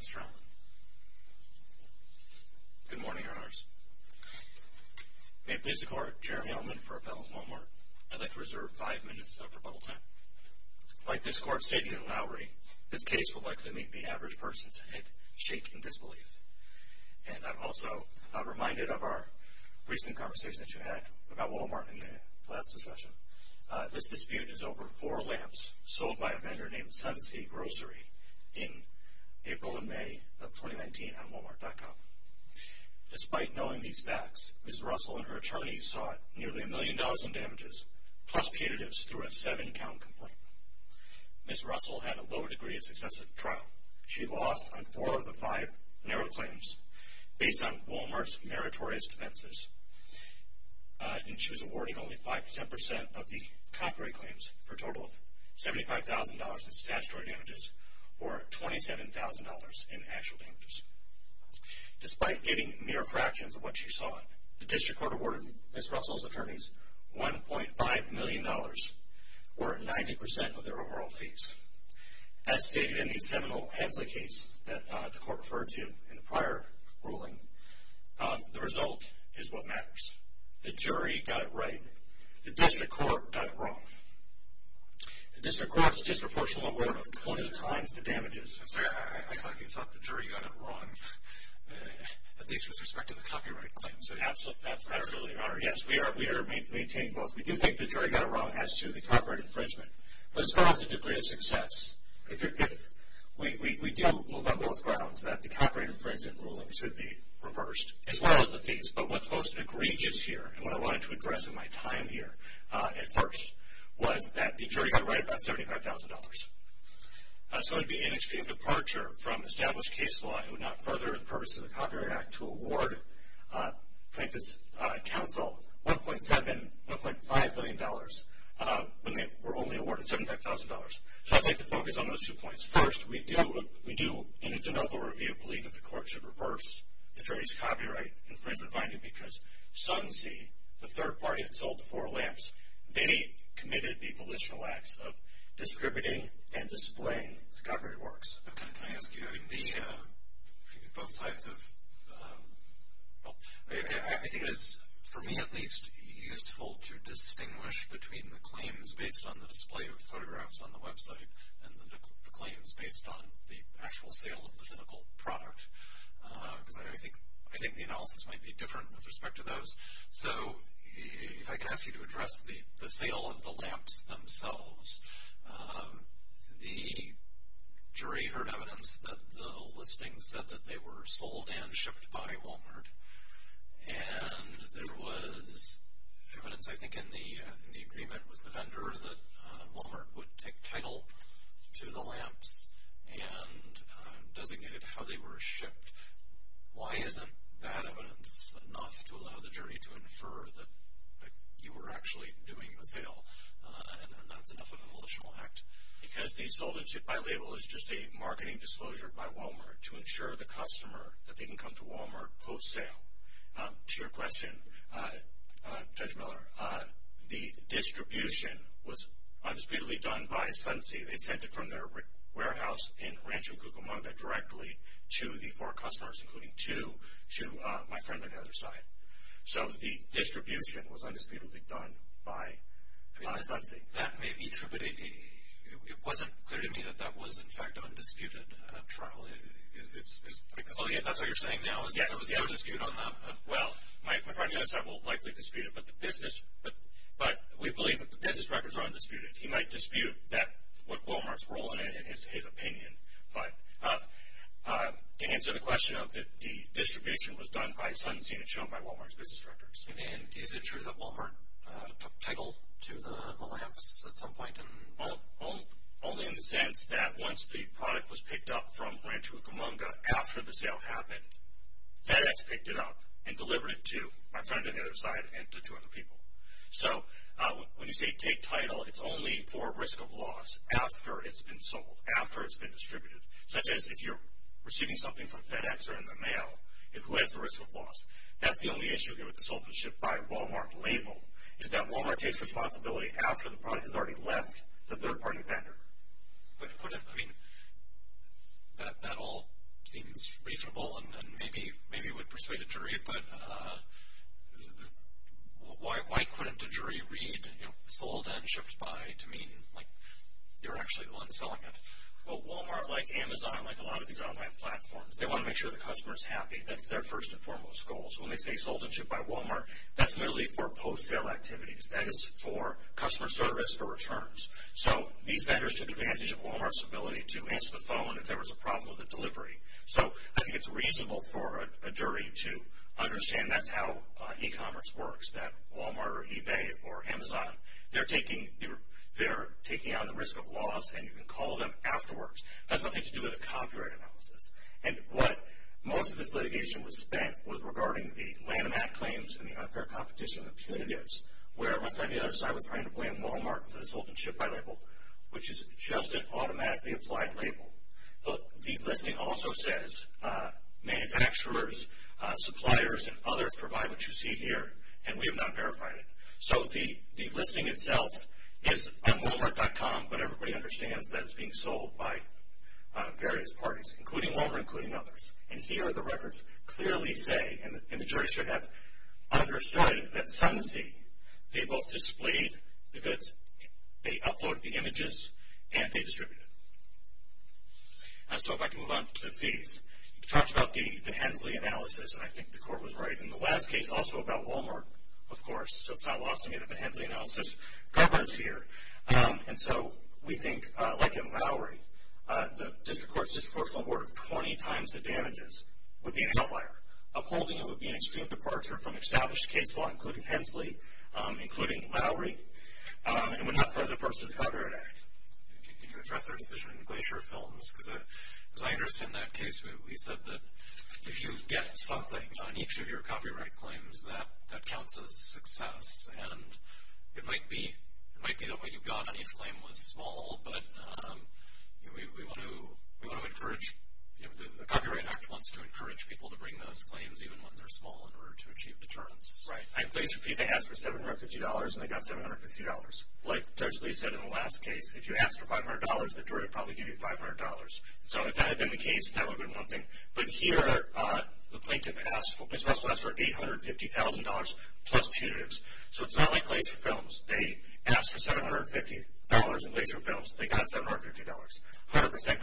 Mr. Allen. Good morning, Your Honors. May it please the Court, Jeremy Allman for Appellant Walmart. I'd like to reserve five minutes of rebuttal time. Like this Court stated in Lowry, this case will likely meet the average person's head-shaking disbelief. And I'm also reminded of our recent conversation that you had about Walmart in the last discussion. This dispute is over four lamps sold by a vendor named Sunsea Grocery in April and May of 2019 on Walmart.com. Despite knowing these facts, Ms. Russell and her attorneys sought nearly a million dollars in damages, plus punitives, through a seven-count complaint. Ms. Russell had a low degree of success at the trial. She lost on four of the five narrow claims based on Walmart's meritorious defenses. And she was awarded only 5-10% of the copyright claims for a total of $75,000 in statutory damages, or $27,000 in actual damages. Despite getting mere fractions of what she sought, the District Court awarded Ms. Russell's attorneys $1.5 million, or 90% of their overall fees. As stated in the seminal Hensley case that the Court referred to in the prior ruling, the result is what matters. The jury got it right. The District Court got it wrong. The District Court's disproportional award of 20 times the damages. I'm sorry, I thought you thought the jury got it wrong, at least with respect to the copyright claims. Absolutely, Your Honor. Yes, we are maintaining both. We do think the jury got it wrong as to the copyright infringement. But as far as the degree of success, we do move on both grounds that the copyright infringement ruling should be reversed, as well as the fees. But what's most egregious here, and what I wanted to address in my time here at first, was that the jury got it right about $75,000. So it would be an extreme departure from established case law. I would not further the purpose of the Copyright Act to award plaintiffs' counsel $1.7, $1.5 million when they were only awarded $75,000. So I'd like to focus on those two points. First, we do, in a de novo review, believe that the Court should reverse the jury's copyright infringement finding because Sunsea, the third party that sold the four lamps, they committed the volitional acts of distributing and displaying the copyrighted works. Can I ask you, both sides of, I think it is, for me at least, useful to distinguish between the claims based on the display of photographs on the website, and the claims based on the actual sale of the physical product. Because I think the analysis might be different with respect to those. So if I could ask you to address the sale of the lamps themselves. The jury heard evidence that the listing said that they were sold and shipped by Walmart. And there was evidence, I think, in the agreement with the vendor that Walmart would take title to the lamps and designated how they were shipped. Why isn't that evidence enough to allow the jury to infer that you were actually doing the sale, and that's enough of a volitional act? Because the sold and shipped by label is just a marketing disclosure by Walmart to ensure the customer that they can come to Walmart post-sale. To your question, Judge Miller, the distribution was undisputedly done by Sunsea. They sent it from their warehouse in Rancho Cucamonga directly to the four customers, including two to my friend on the other side. So the distribution was undisputedly done by Sunsea. That may be true, but it wasn't clear to me that that was in fact undisputed, Charles. That's what you're saying now? Yes. There was no dispute on that? Well, my friend on the other side will likely dispute it, but we believe that the business records are undisputed. He might dispute what Walmart's role in it in his opinion. But to answer the question of the distribution was done by Sunsea and shown by Walmart's business records. And is it true that Walmart took title to the lamps at some point? Only in the sense that once the product was picked up from Rancho Cucamonga after the sale happened, FedEx picked it up and delivered it to my friend on the other side and to two other people. So when you say take title, it's only for risk of loss after it's been sold, after it's been distributed. Such as if you're receiving something from FedEx or in the mail, who has the risk of loss? That's the only issue here with the sold and shipped by Walmart label, is that Walmart takes responsibility after the product has already left the third-party vendor. But couldn't, I mean, that all seems reasonable and maybe would persuade a jury, but why couldn't a jury read sold and shipped by to mean like you're actually the one selling it? Well, Walmart, like Amazon, like a lot of these online platforms, they want to make sure the customer's happy. That's their first and foremost goal. So when they say sold and shipped by Walmart, that's literally for post-sale activities. That is for customer service for returns. So these vendors took advantage of Walmart's ability to answer the phone if there was a problem with the delivery. So I think it's reasonable for a jury to understand that's how e-commerce works, that Walmart or eBay or Amazon, they're taking on the risk of loss and you can call them afterwards. That's nothing to do with a copyright analysis. And what most of this litigation was spent was regarding the Lanham Act claims and the unfair competition of punitives where my friend the other side was trying to blame Walmart for the sold and shipped by label, which is just an automatically applied label. The listing also says manufacturers, suppliers, and others provide what you see here, and we have not verified it. So the listing itself is on Walmart.com, but everybody understands that it's being sold by various parties, including Walmart, including others. And here the records clearly say, and the jury should have understood it, that Sunsea, they both displayed the goods, they uploaded the images, and they distributed them. So if I can move on to fees. We talked about the Hensley analysis, and I think the court was right in the last case also about Walmart, of course. So it's not lost on me that the Hensley analysis governs here. And so we think, like in Lowry, the district court's disproportionate award of 20 times the damages would be an outlier. Upholding it would be an extreme departure from established case law, including Hensley, including Lowry. It would not further the purpose of the Copyright Act. Can you address our decision in the Glacier Films? Because as I understand that case, we said that if you get something on each of your copyright claims, that counts as success, and it might be that what you got on each claim was small, but we want to encourage, the Copyright Act wants to encourage people to bring those claims, even when they're small, in order to achieve deterrence. Right. And please repeat, they asked for $750, and they got $750. Like Judge Lee said in the last case, if you asked for $500, the jury would probably give you $500. So if that had been the case, that would have been one thing. But here, the plaintiff asked for $850,000 plus punitives. So it's not like Glacier Films. They asked for $750 in Glacier Films. They got $750. 100%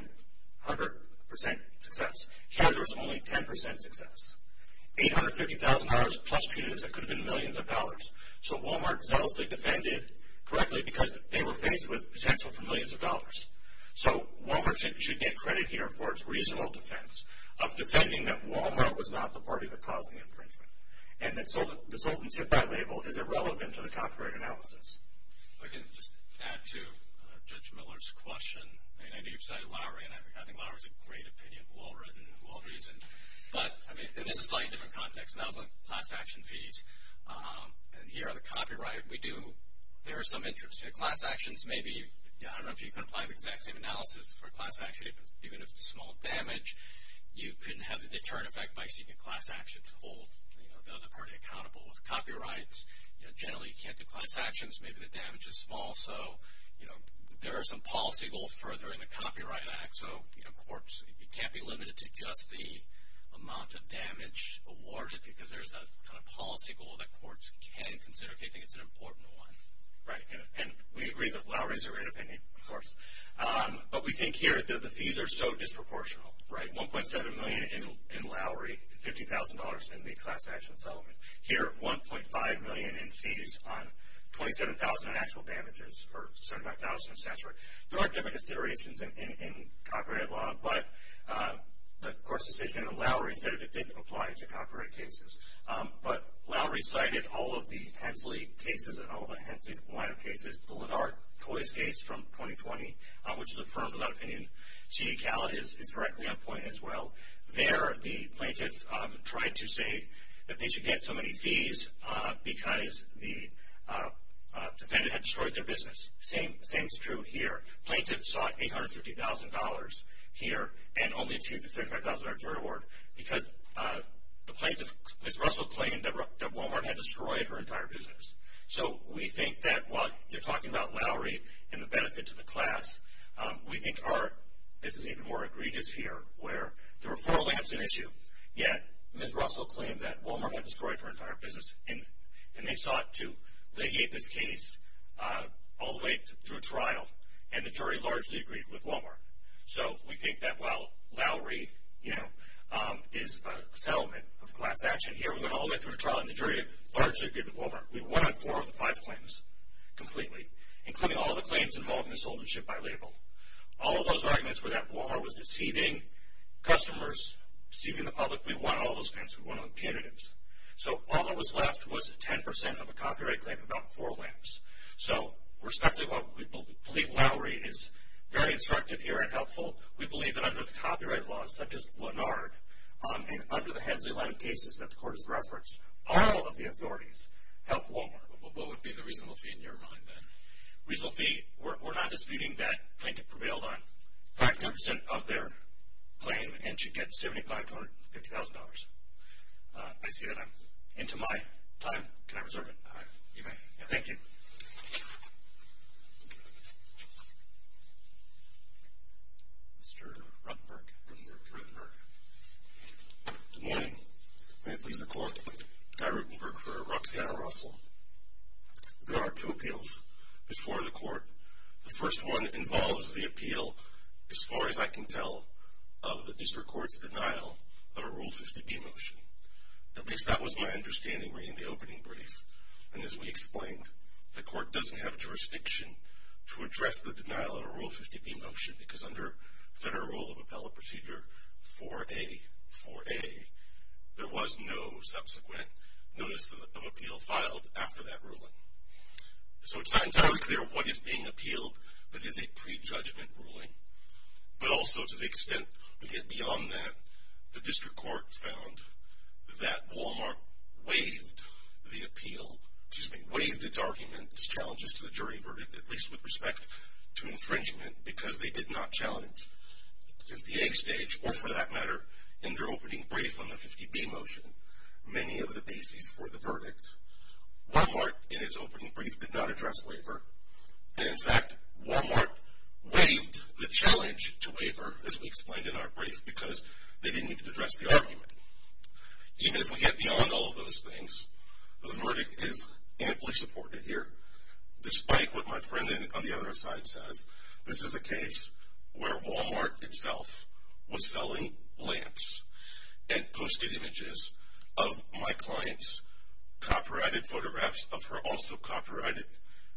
success. Here there was only 10% success. $850,000 plus punitives, that could have been millions of dollars. So Walmart zealously defended correctly because they were faced with potential for millions of dollars. So Walmart should get credit here for its reasonable defense of defending that Walmart was not the party that caused the infringement, and that the solvency by label is irrelevant to the copyright analysis. If I can just add to Judge Miller's question. I know you've cited Lowry, and I think Lowry's a great opinion, well-written, well-reasoned. But it is a slightly different context, and that was on class action fees. And here on the copyright, we do, there are some interests. So class actions may be, I don't know if you can apply the exact same analysis for a class action, even if it's a small damage. You couldn't have the deterrent effect by seeking a class action to hold the other party accountable with copyrights. Generally, you can't do class actions. Maybe the damage is small. So there are some policy goals further in the Copyright Act. So courts, it can't be limited to just the amount of damage awarded because there's a kind of policy goal that courts can consider if they think it's an important one. Right. And we agree that Lowry's a great opinion, of course. But we think here that the fees are so disproportional, right? $1.7 million in Lowry, $50,000 in the class action settlement. Here, $1.5 million in fees on 27,000 actual damages per 75,000 of statutory. There are different considerations in copyright law, but the court's decision in Lowry said it didn't apply to copyright cases. But Lowry cited all of the Hensley cases and all the Hensley line of cases. The Lennart Toys case from 2020, which is affirmed without opinion. C.E. Callot is directly on point as well. There, the plaintiffs tried to say that they should get so many fees because the defendant had destroyed their business. The same is true here. Plaintiffs sought $850,000 here and only achieved the $75,000 jury award because the plaintiff, Ms. Russell, claimed that Walmart had destroyed her entire business. So we think that while you're talking about Lowry and the benefit to the class, we think this is even more egregious here where the referral is an issue, yet Ms. Russell claimed that Walmart had destroyed her entire business, and they sought to legate this case all the way through trial, and the jury largely agreed with Walmart. So we think that while Lowry is a settlement of class action here, we went all the way through trial, and the jury largely agreed with Walmart. We won on four of the five claims completely, including all the claims involving misownership by label. All of those arguments were that Walmart was deceiving customers, deceiving the public. We won on all those claims. We won on the punitives. So all that was left was 10% of a copyright claim, about four lamps. So we believe Lowry is very instructive here and helpful. We believe that under the copyright laws, such as Lennard, and under the Hensley line of cases that the court has referenced, all of the authorities helped Walmart. What would be the reasonable fee in your mind, then? Reasonable fee, we're not disputing that plaintiff prevailed on 10% of their claim and should get $75,000. I see that I'm into my time. Can I reserve it? You may. Thank you. Mr. Ruttenberg. Good morning. May it please the Court, Guy Ruttenberg for Roxanna Russell. There are two appeals before the Court. The first one involves the appeal, as far as I can tell, of the district court's denial of a Rule 50B motion. At least that was my understanding reading the opening brief. And as we explained, the Court doesn't have jurisdiction to address the denial of a Rule 50B motion because under Federal Rule of Appellate Procedure 4A, 4A, there was no subsequent notice of appeal filed after that ruling. So it's not entirely clear what is being appealed that is a prejudgment ruling, but also to the extent we get beyond that, the district court found that Walmart waived the appeal. Excuse me, waived its argument, its challenges to the jury verdict, at least with respect to infringement, because they did not challenge, because the A stage, or for that matter, in their opening brief on the 50B motion, many of the bases for the verdict. Walmart, in its opening brief, did not address waiver. And in fact, Walmart waived the challenge to waiver, as we explained in our brief, because they didn't need to address the argument. Even if we get beyond all of those things, the verdict is amply supported here. Despite what my friend on the other side says, this is a case where Walmart itself was selling lamps and posted images of my client's copyrighted photographs of her also copyrighted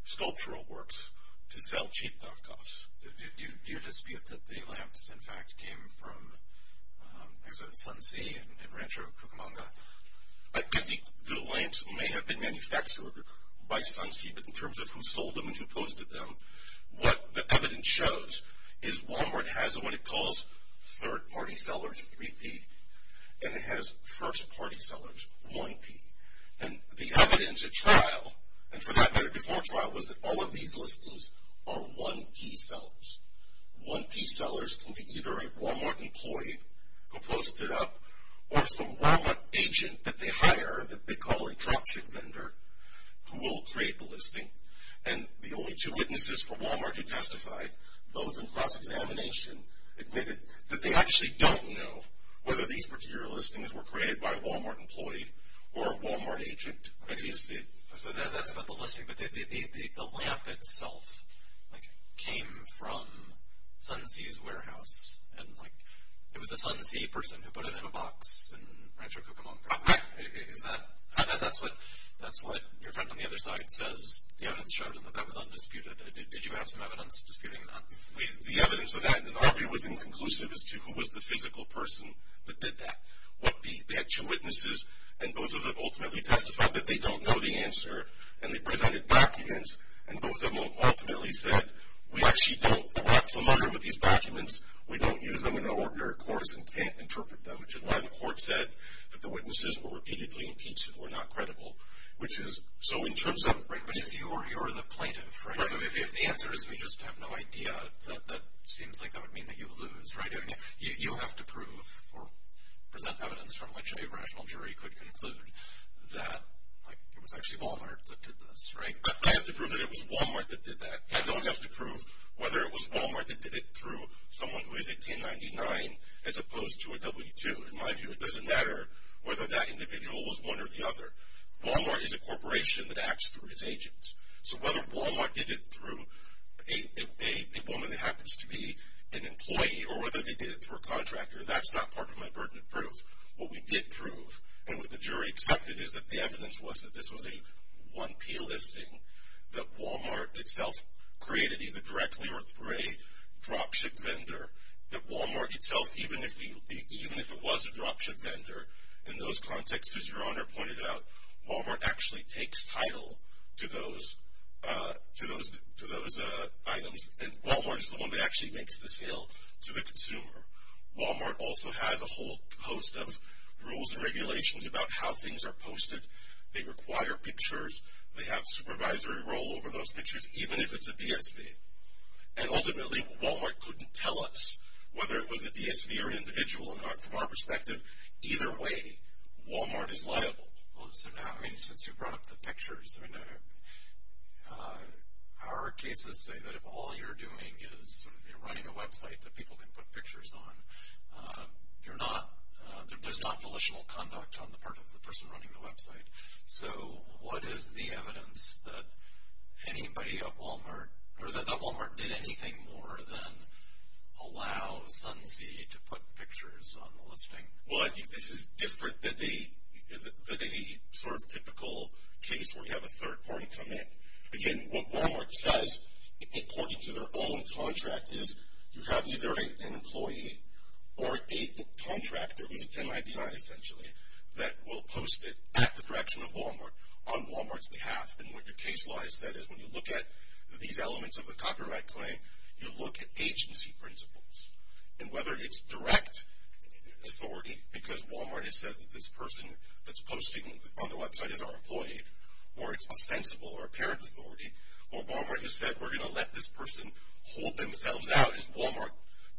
sculptural works to sell cheap knockoffs. Do you dispute that the lamps, in fact, came from Sunsea and Rancho Cucamonga? I think the lamps may have been manufactured by Sunsea, but in terms of who sold them and who posted them, what the evidence shows is Walmart has what it calls third-party sellers, 3P, and it has first-party sellers, 1P. And the evidence at trial, and for that matter, before trial, was that all of these listings are 1P sellers. 1P sellers can be either a Walmart employee who posted up, or some Walmart agent that they hire that they call a toxic vendor, who will create the listing. And the only two witnesses for Walmart who testified, those in cross-examination, admitted that they actually don't know whether these particular listings were created by a Walmart employee or a Walmart agent. So that's about the listing, but the lamp itself came from Sunsea's warehouse, and it was a Sunsea person who put it in a box in Rancho Cucamonga. Is that? I thought that's what your friend on the other side says the evidence shows, and that that was undisputed. Did you have some evidence disputing that? The evidence of that in all of it was inconclusive as to who was the physical person that did that. What the actual witnesses, and both of them ultimately testified that they don't know the answer, and they presented documents, and both of them ultimately said, we actually don't know what's the matter with these documents. We don't use them in our ordinary course and can't interpret them, which is why the court said that the witnesses were repeatedly impeached and were not credible. Which is, so in terms of... Right, but you're the plaintiff, right? Right. So if the answer is we just have no idea, that seems like that would mean that you lose, right? You have to prove or present evidence from which a rational jury could conclude that it was actually Walmart that did this, right? I have to prove that it was Walmart that did that. I don't have to prove whether it was Walmart that did it through someone who is a 1099 as opposed to a W-2. In my view, it doesn't matter whether that individual was one or the other. Walmart is a corporation that acts through its agents. So whether Walmart did it through a woman that happens to be an employee or whether they did it through a contractor, that's not part of my burden of proof. What we did prove and what the jury accepted is that the evidence was that this was a 1P listing, that Walmart itself created either directly or through a dropship vendor, that Walmart itself, even if it was a dropship vendor, in those contexts, as Your Honor pointed out, Walmart actually takes title to those items and Walmart is the one that actually makes the sale to the consumer. Walmart also has a whole host of rules and regulations about how things are posted. They require pictures. They have supervisory role over those pictures, even if it's a DSV. And ultimately, Walmart couldn't tell us whether it was a DSV or an individual or not from our perspective. Either way, Walmart is liable. Well, so now, I mean, since you brought up the pictures, our cases say that if all you're doing is sort of running a website that people can put pictures on, there's not volitional conduct on the part of the person running the website. So what is the evidence that anybody at Walmart or that Walmart did anything more than allow Sunsea to put pictures on the listing? Well, I think this is different than the sort of typical case where you have a third party come in. Again, what Walmart says, according to their own contract, is you have either an employee or a contractor, who's a 1099 essentially, that will post it at the direction of Walmart on Walmart's behalf. And what your case law has said is when you look at these elements of a copyright claim, you look at agency principles. And whether it's direct authority, because Walmart has said that this person that's posting on the website is our employee, or it's ostensible or apparent authority, or Walmart has said we're going to let this person hold themselves out as Walmart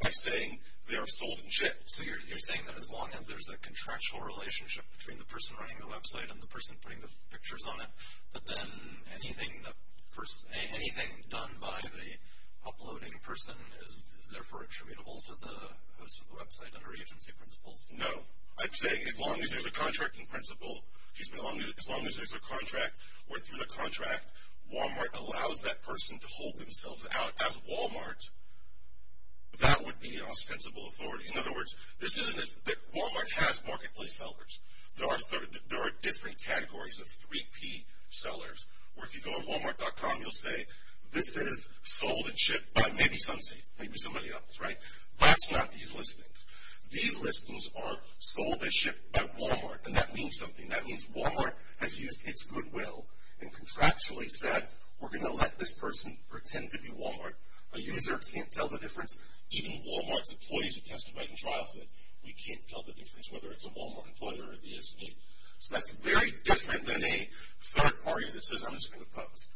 by saying they are sold and shipped. So you're saying that as long as there's a contractual relationship between the person running the website and the person putting the pictures on it, that then anything done by the uploading person is therefore attributable to the host of the website under agency principles? No. I'm saying as long as there's a contracting principle, as long as there's a contract where through the contract Walmart allows that person to hold themselves out as Walmart, that would be ostensible authority. In other words, Walmart has marketplace sellers. There are different categories of 3P sellers. Where if you go to Walmart.com, you'll say this is sold and shipped by maybe somebody else, right? That's not these listings. These listings are sold and shipped by Walmart. And that means something. That means Walmart has used its goodwill and contractually said we're going to let this person pretend to be Walmart. A user can't tell the difference. Even Walmart's employees have testified in trials that we can't tell the difference whether it's a Walmart employee or a DSV. So that's very different than a third party that says I'm just going to post.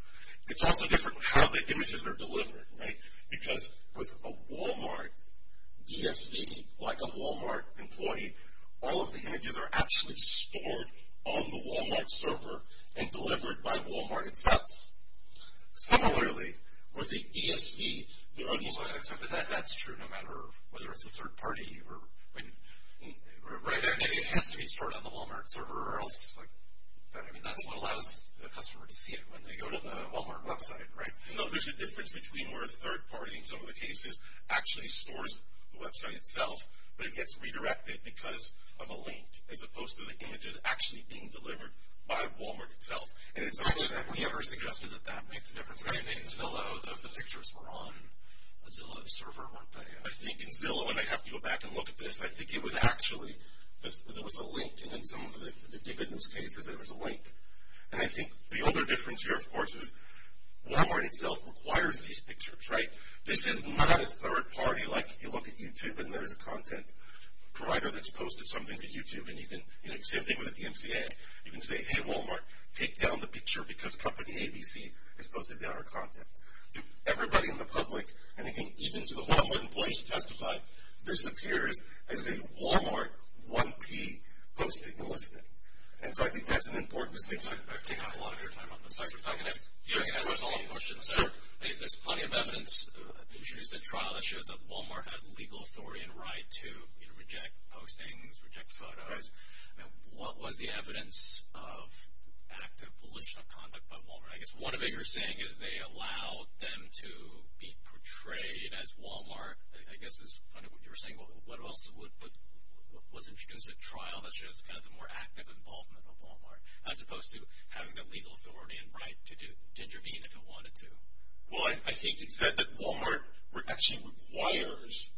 It's also different how the images are delivered, right? Because with a Walmart DSV, like a Walmart employee, all of the images are actually stored on the Walmart server and delivered by Walmart itself. Similarly, with a DSV, that's true no matter whether it's a third party. It has to be stored on the Walmart server or else. That's what allows the customer to see it when they go to the Walmart website, right? No, there's a difference between where a third party in some of the cases actually stores the website itself, but it gets redirected because of a link as opposed to the images actually being delivered by Walmart itself. Have we ever suggested that that makes a difference? I think in Zillow, the pictures were on the Zillow server, weren't they? I think in Zillow, and I have to go back and look at this, I think it was actually, there was a link in some of the dividends cases, there was a link. And I think the other difference here, of course, is Walmart itself requires these pictures, right? This is not a third party, like you look at YouTube and there's a content provider that's posted something to YouTube. And you can, you know, same thing with the DMCA. You can say, hey, Walmart, take down the picture because company ABC has posted the other content. To everybody in the public, and I think even to the Walmart employees who testified, this appears as a Walmart 1P posting and listing. And so I think that's an important distinction. I've taken up a lot of your time on this. Sorry for talking. Do you want to answer some of the questions? Sure. There's plenty of evidence that you should use a trial that shows that Walmart has legal authority and right to reject postings, reject photos. And what was the evidence of active political conduct by Walmart? I guess one of it you're saying is they allow them to be portrayed as Walmart. I guess is kind of what you were saying. What else was introduced? A trial that shows kind of the more active involvement of Walmart, as opposed to having the legal authority and right to intervene if it wanted to. Well, I think it said that Walmart actually requires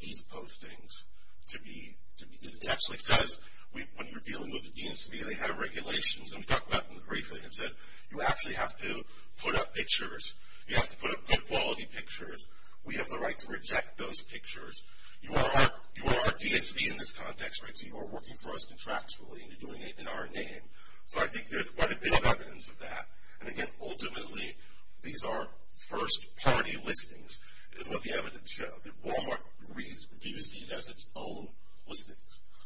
these postings to be, it actually says when you're dealing with the DSV, they have regulations. And we talked about them briefly. It says you actually have to put up pictures. You have to put up good quality pictures. We have the right to reject those pictures. You are our DSV in this context, right? So you are working for us contractually, and you're doing it in our name. So I think there's quite a bit of evidence of that. And again, ultimately, these are first party listings is what the evidence shows. Walmart views these as its own listings.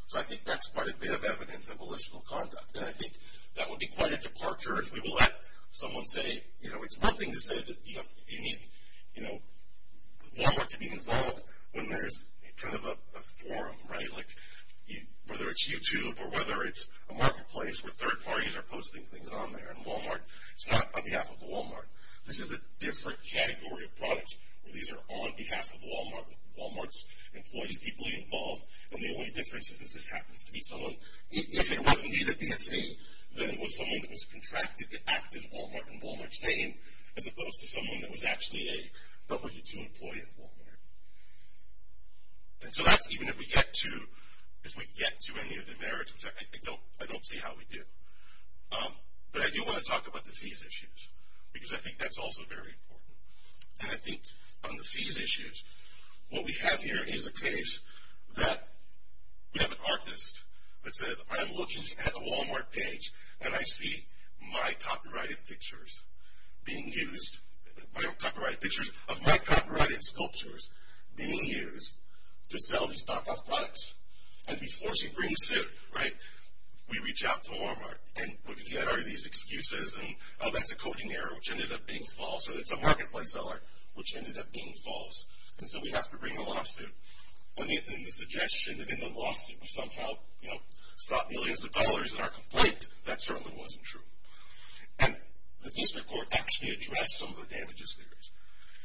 So I think that's quite a bit of evidence of political conduct. And I think that would be quite a departure if we will let someone say, you know, it's one thing to say that you need, you know, Walmart to be involved when there's kind of a forum, right? Like whether it's YouTube or whether it's a marketplace where third parties are posting things on there. And Walmart, it's not on behalf of Walmart. This is a different category of product. These are on behalf of Walmart, with Walmart's employees deeply involved. And the only difference is this happens to be someone, if it was indeed a DSV, then it was someone that was contracted to act as Walmart in Walmart's name, as opposed to someone that was actually a W2 employee at Walmart. And so that's even if we get to any of the merits, which I don't see how we do. But I do want to talk about the fees issues, because I think that's also very important. And I think on the fees issues, what we have here is a case that we have an artist that says, I'm looking at a Walmart page and I see my copyrighted pictures being used, my copyrighted pictures of my copyrighted sculptures being used to sell these knockoff products. And before she brings it, right, we reach out to Walmart. And what we get are these excuses and, oh, that's a coding error, which ended up being false, or it's a marketplace seller, which ended up being false. And so we have to bring a lawsuit. And the suggestion that in the lawsuit we somehow sought millions of dollars in our complaint, that certainly wasn't true. And the district court actually addressed some of the damages there is.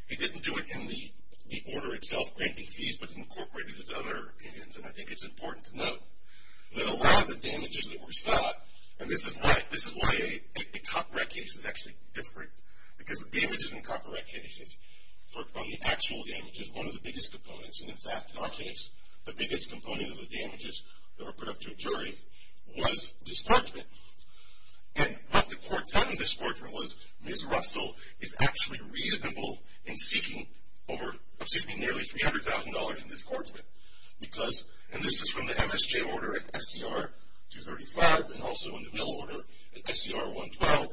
It didn't do it in the order itself, granting fees, but incorporated its other opinions. And I think it's important to note that a lot of the damages that were sought, and this is why a copyright case is actually different, because the damages in copyright cases are the actual damages, one of the biggest components. And, in fact, in our case, the biggest component of the damages that were put up to a jury was disbarment. And what the court said in disbarment was Ms. Russell is actually reasonable in seeking over, excuse me, nearly $300,000 in disbarment because, and this is from the MSJ order at SCR 235 and also in the mill order at SCR 112,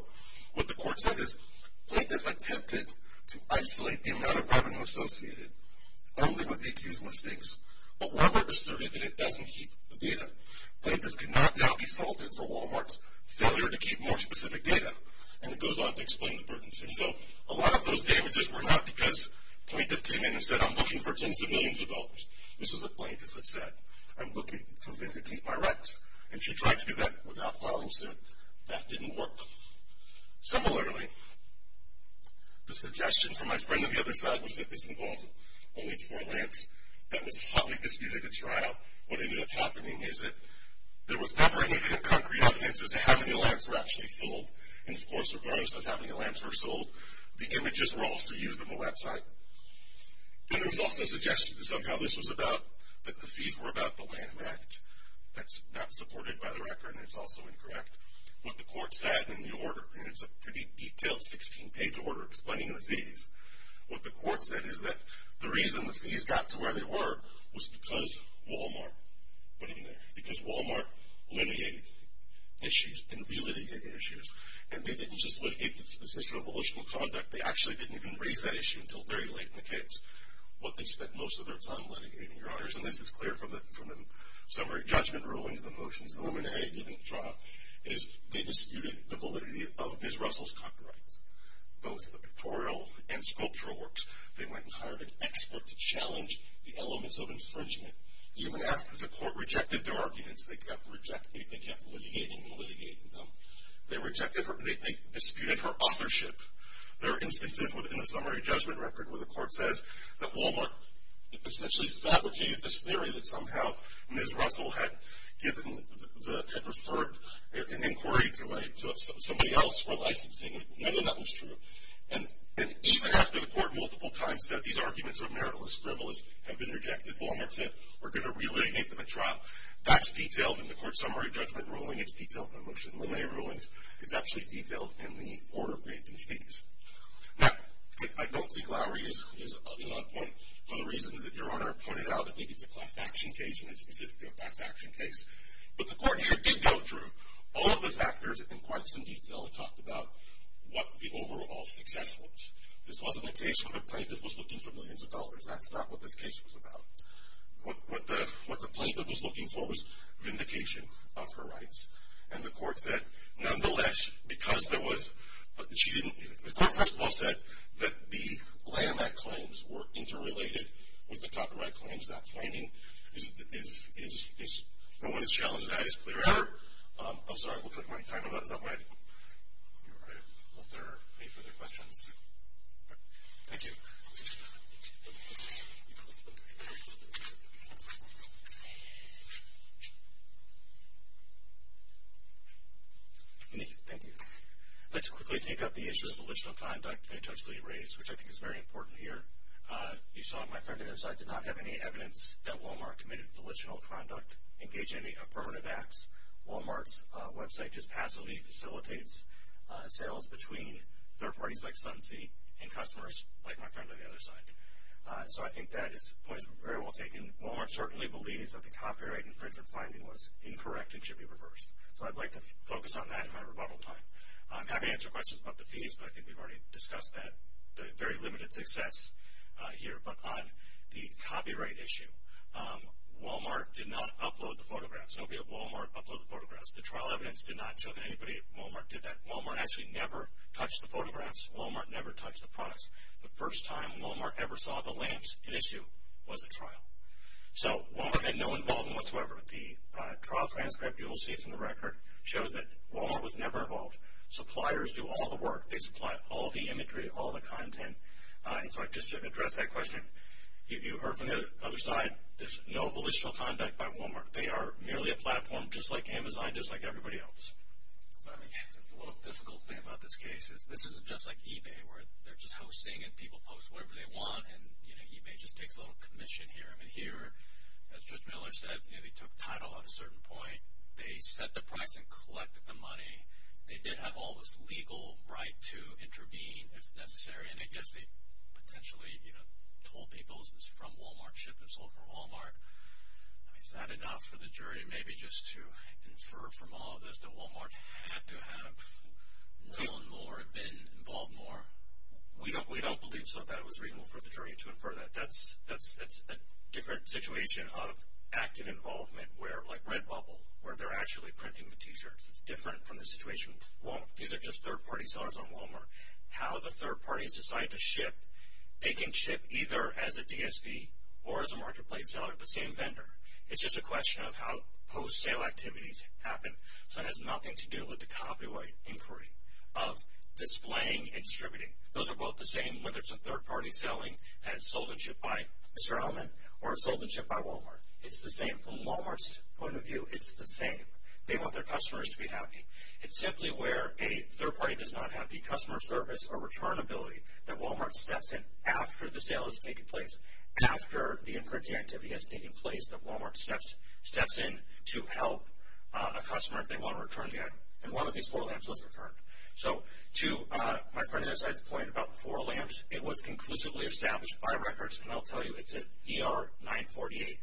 what the court said is plaintiff attempted to isolate the amount of revenue associated only with accused listings, but Weber asserted that it doesn't keep the data. Plaintiff could not now be faulted for Walmart's failure to keep more specific data. And it goes on to explain the burdens. And so a lot of those damages were not because plaintiff came in and said, I'm looking for tens of millions of dollars. This is what plaintiff had said. I'm looking for them to keep my rights. And she tried to do that without filing suit. That didn't work. Similarly, the suggestion from my friend on the other side was that this involved only four lamps. That was hotly disputed at trial. What ended up happening is that there was never any concrete evidence as to how many lamps were actually sold. And, of course, regardless of how many lamps were sold, the images were also used on the website. And there was also suggestion that somehow this was about, that the fees were about the land match. That's not supported by the record, and it's also incorrect. What the court said in the order, and it's a pretty detailed 16-page order explaining the fees, what the court said is that the reason the fees got to where they were was because Walmart went in there, because Walmart litigated issues and re-litigated issues. And they didn't just litigate the position of emotional conduct. They actually didn't even raise that issue until very late in the case. What they spent most of their time litigating, Your Honors, and this is clear from the summary judgment rulings, the motions illuminated at trial, is they disputed the validity of Ms. Russell's copyrights, both the pictorial and sculptural works. They went and hired an expert to challenge the elements of infringement. Even after the court rejected their arguments, they kept litigating and litigating them. They disputed her authorship. There are instances within the summary judgment record where the court says that Walmart essentially fabricated this theory that somehow Ms. Russell had referred an inquiry to somebody else for licensing. None of that was true. And even after the court multiple times said these arguments are meritless, frivolous, have been rejected, Walmart said we're going to re-litigate them at trial, that's detailed in the court summary judgment ruling. It's detailed in the motion relay rulings. It's actually detailed in the order granting fees. Now, I don't think Lowery is a good enough point for the reasons that Your Honor pointed out. I think it's a class action case, and it's specific to a class action case. But the court here did go through all of the factors in quite some detail. It talked about what the overall success was. This wasn't a case where the plaintiff was looking for millions of dollars. That's not what this case was about. What the plaintiff was looking for was vindication of her rights. And the court said, nonetheless, because there was – the court first of all said that the LAMAC claims were interrelated with the copyright claims. That finding is – no one has challenged that as clear ever. I'm sorry, it looks like my time is up. Unless there are any further questions. Thank you. Thank you. I'd like to quickly take up the issue of volitional conduct and intentionally erase, which I think is very important here. You saw my friend on the other side did not have any evidence that Walmart committed volitional conduct, engage in any affirmative acts. Walmart's website just passively facilitates sales between third parties like Sunsea and customers like my friend on the other side. So I think that point is very well taken. Walmart certainly believes that the copyright infringement finding was incorrect and should be reversed. So I'd like to focus on that in my rebuttal time. I'm happy to answer questions about the fees, but I think we've already discussed that, the very limited success here. But on the copyright issue, Walmart did not upload the photographs. Nobody at Walmart uploaded the photographs. The trial evidence did not show that anybody at Walmart did that. Walmart actually never touched the photographs. Walmart never touched the products. The first time Walmart ever saw the links in issue was at trial. So Walmart had no involvement whatsoever. The trial transcript you will see from the record shows that Walmart was never involved. Suppliers do all the work. They supply all the imagery, all the content. And so just to address that question, you heard from the other side, there's no volitional conduct by Walmart. They are merely a platform just like Amazon, just like everybody else. The little difficult thing about this case is this isn't just like eBay where they're just hosting and people post whatever they want, and, you know, eBay just takes a little commission here. I mean, here, as Judge Miller said, they took title at a certain point. They set the price and collected the money. They did have all this legal right to intervene if necessary, and I guess they potentially, you know, told people it was from Walmart, shipped and sold from Walmart. I mean, is that enough for the jury maybe just to infer from all of this that Walmart had to have known more, been involved more? We don't believe so that it was reasonable for the jury to infer that. That's a different situation of active involvement where, like Redbubble, where they're actually printing the T-shirts. It's different from the situation. These are just third-party sellers on Walmart. How the third parties decide to ship, they can ship either as a DSV or as a marketplace seller at the same vendor. It's just a question of how post-sale activities happen, so it has nothing to do with the copyright inquiry of displaying and distributing. Those are both the same whether it's a third-party selling that is sold and shipped by Mr. Ellman or is sold and shipped by Walmart. It's the same. From Walmart's point of view, it's the same. They want their customers to be happy. It's simply where a third party does not have the customer service or returnability that Walmart steps in after the sale has taken place, after the infringing activity has taken place, that Walmart steps in to help a customer if they want to return the item. One of these four lamps was returned. To my friend on the other side's point about the four lamps, it was conclusively established by records, and I'll tell you it's an ER-948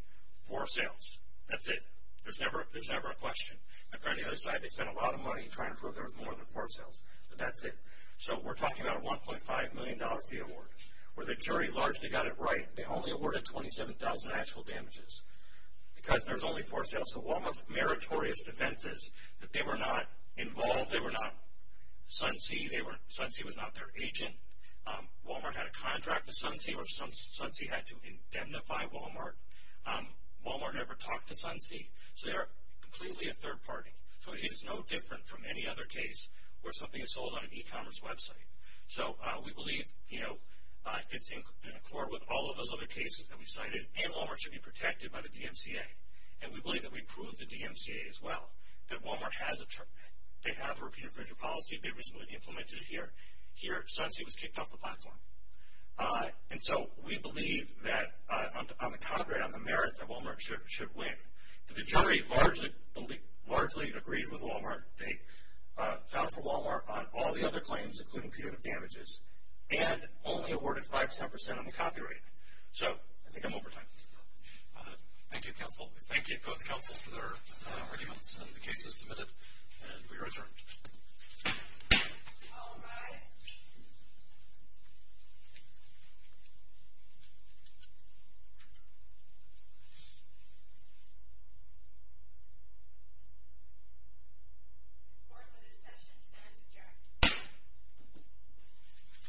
for sales. That's it. There's never a question. My friend on the other side, they spent a lot of money trying to prove there was more than four sales, but that's it. So we're talking about a $1.5 million fee award. Where the jury largely got it right, they only awarded $27,000 in actual damages because there was only four sales. So Walmart's meritorious defense is that they were not involved. They were not Sunsea. Sunsea was not their agent. Walmart had a contract with Sunsea or Sunsea had to indemnify Walmart. Walmart never talked to Sunsea, so they are completely a third party. So it is no different from any other case where something is sold on an e-commerce website. So we believe, you know, it's in accord with all of those other cases that we cited, and Walmart should be protected by the DMCA. And we believe that we proved the DMCA as well, that Walmart has a term. They have a repeated infringement policy. They recently implemented it here. Here, Sunsea was kicked off the platform. And so we believe that on the contrary, on the merit that Walmart should win, the jury largely agreed with Walmart. They filed for Walmart on all the other claims, including punitive damages, and only awarded 5%, 10% on the copyright. So I think I'm over time. Thank you, counsel. Thank you, both counsel, for their arguments and the cases submitted. And we return. All rise. Court for this session stands adjourned.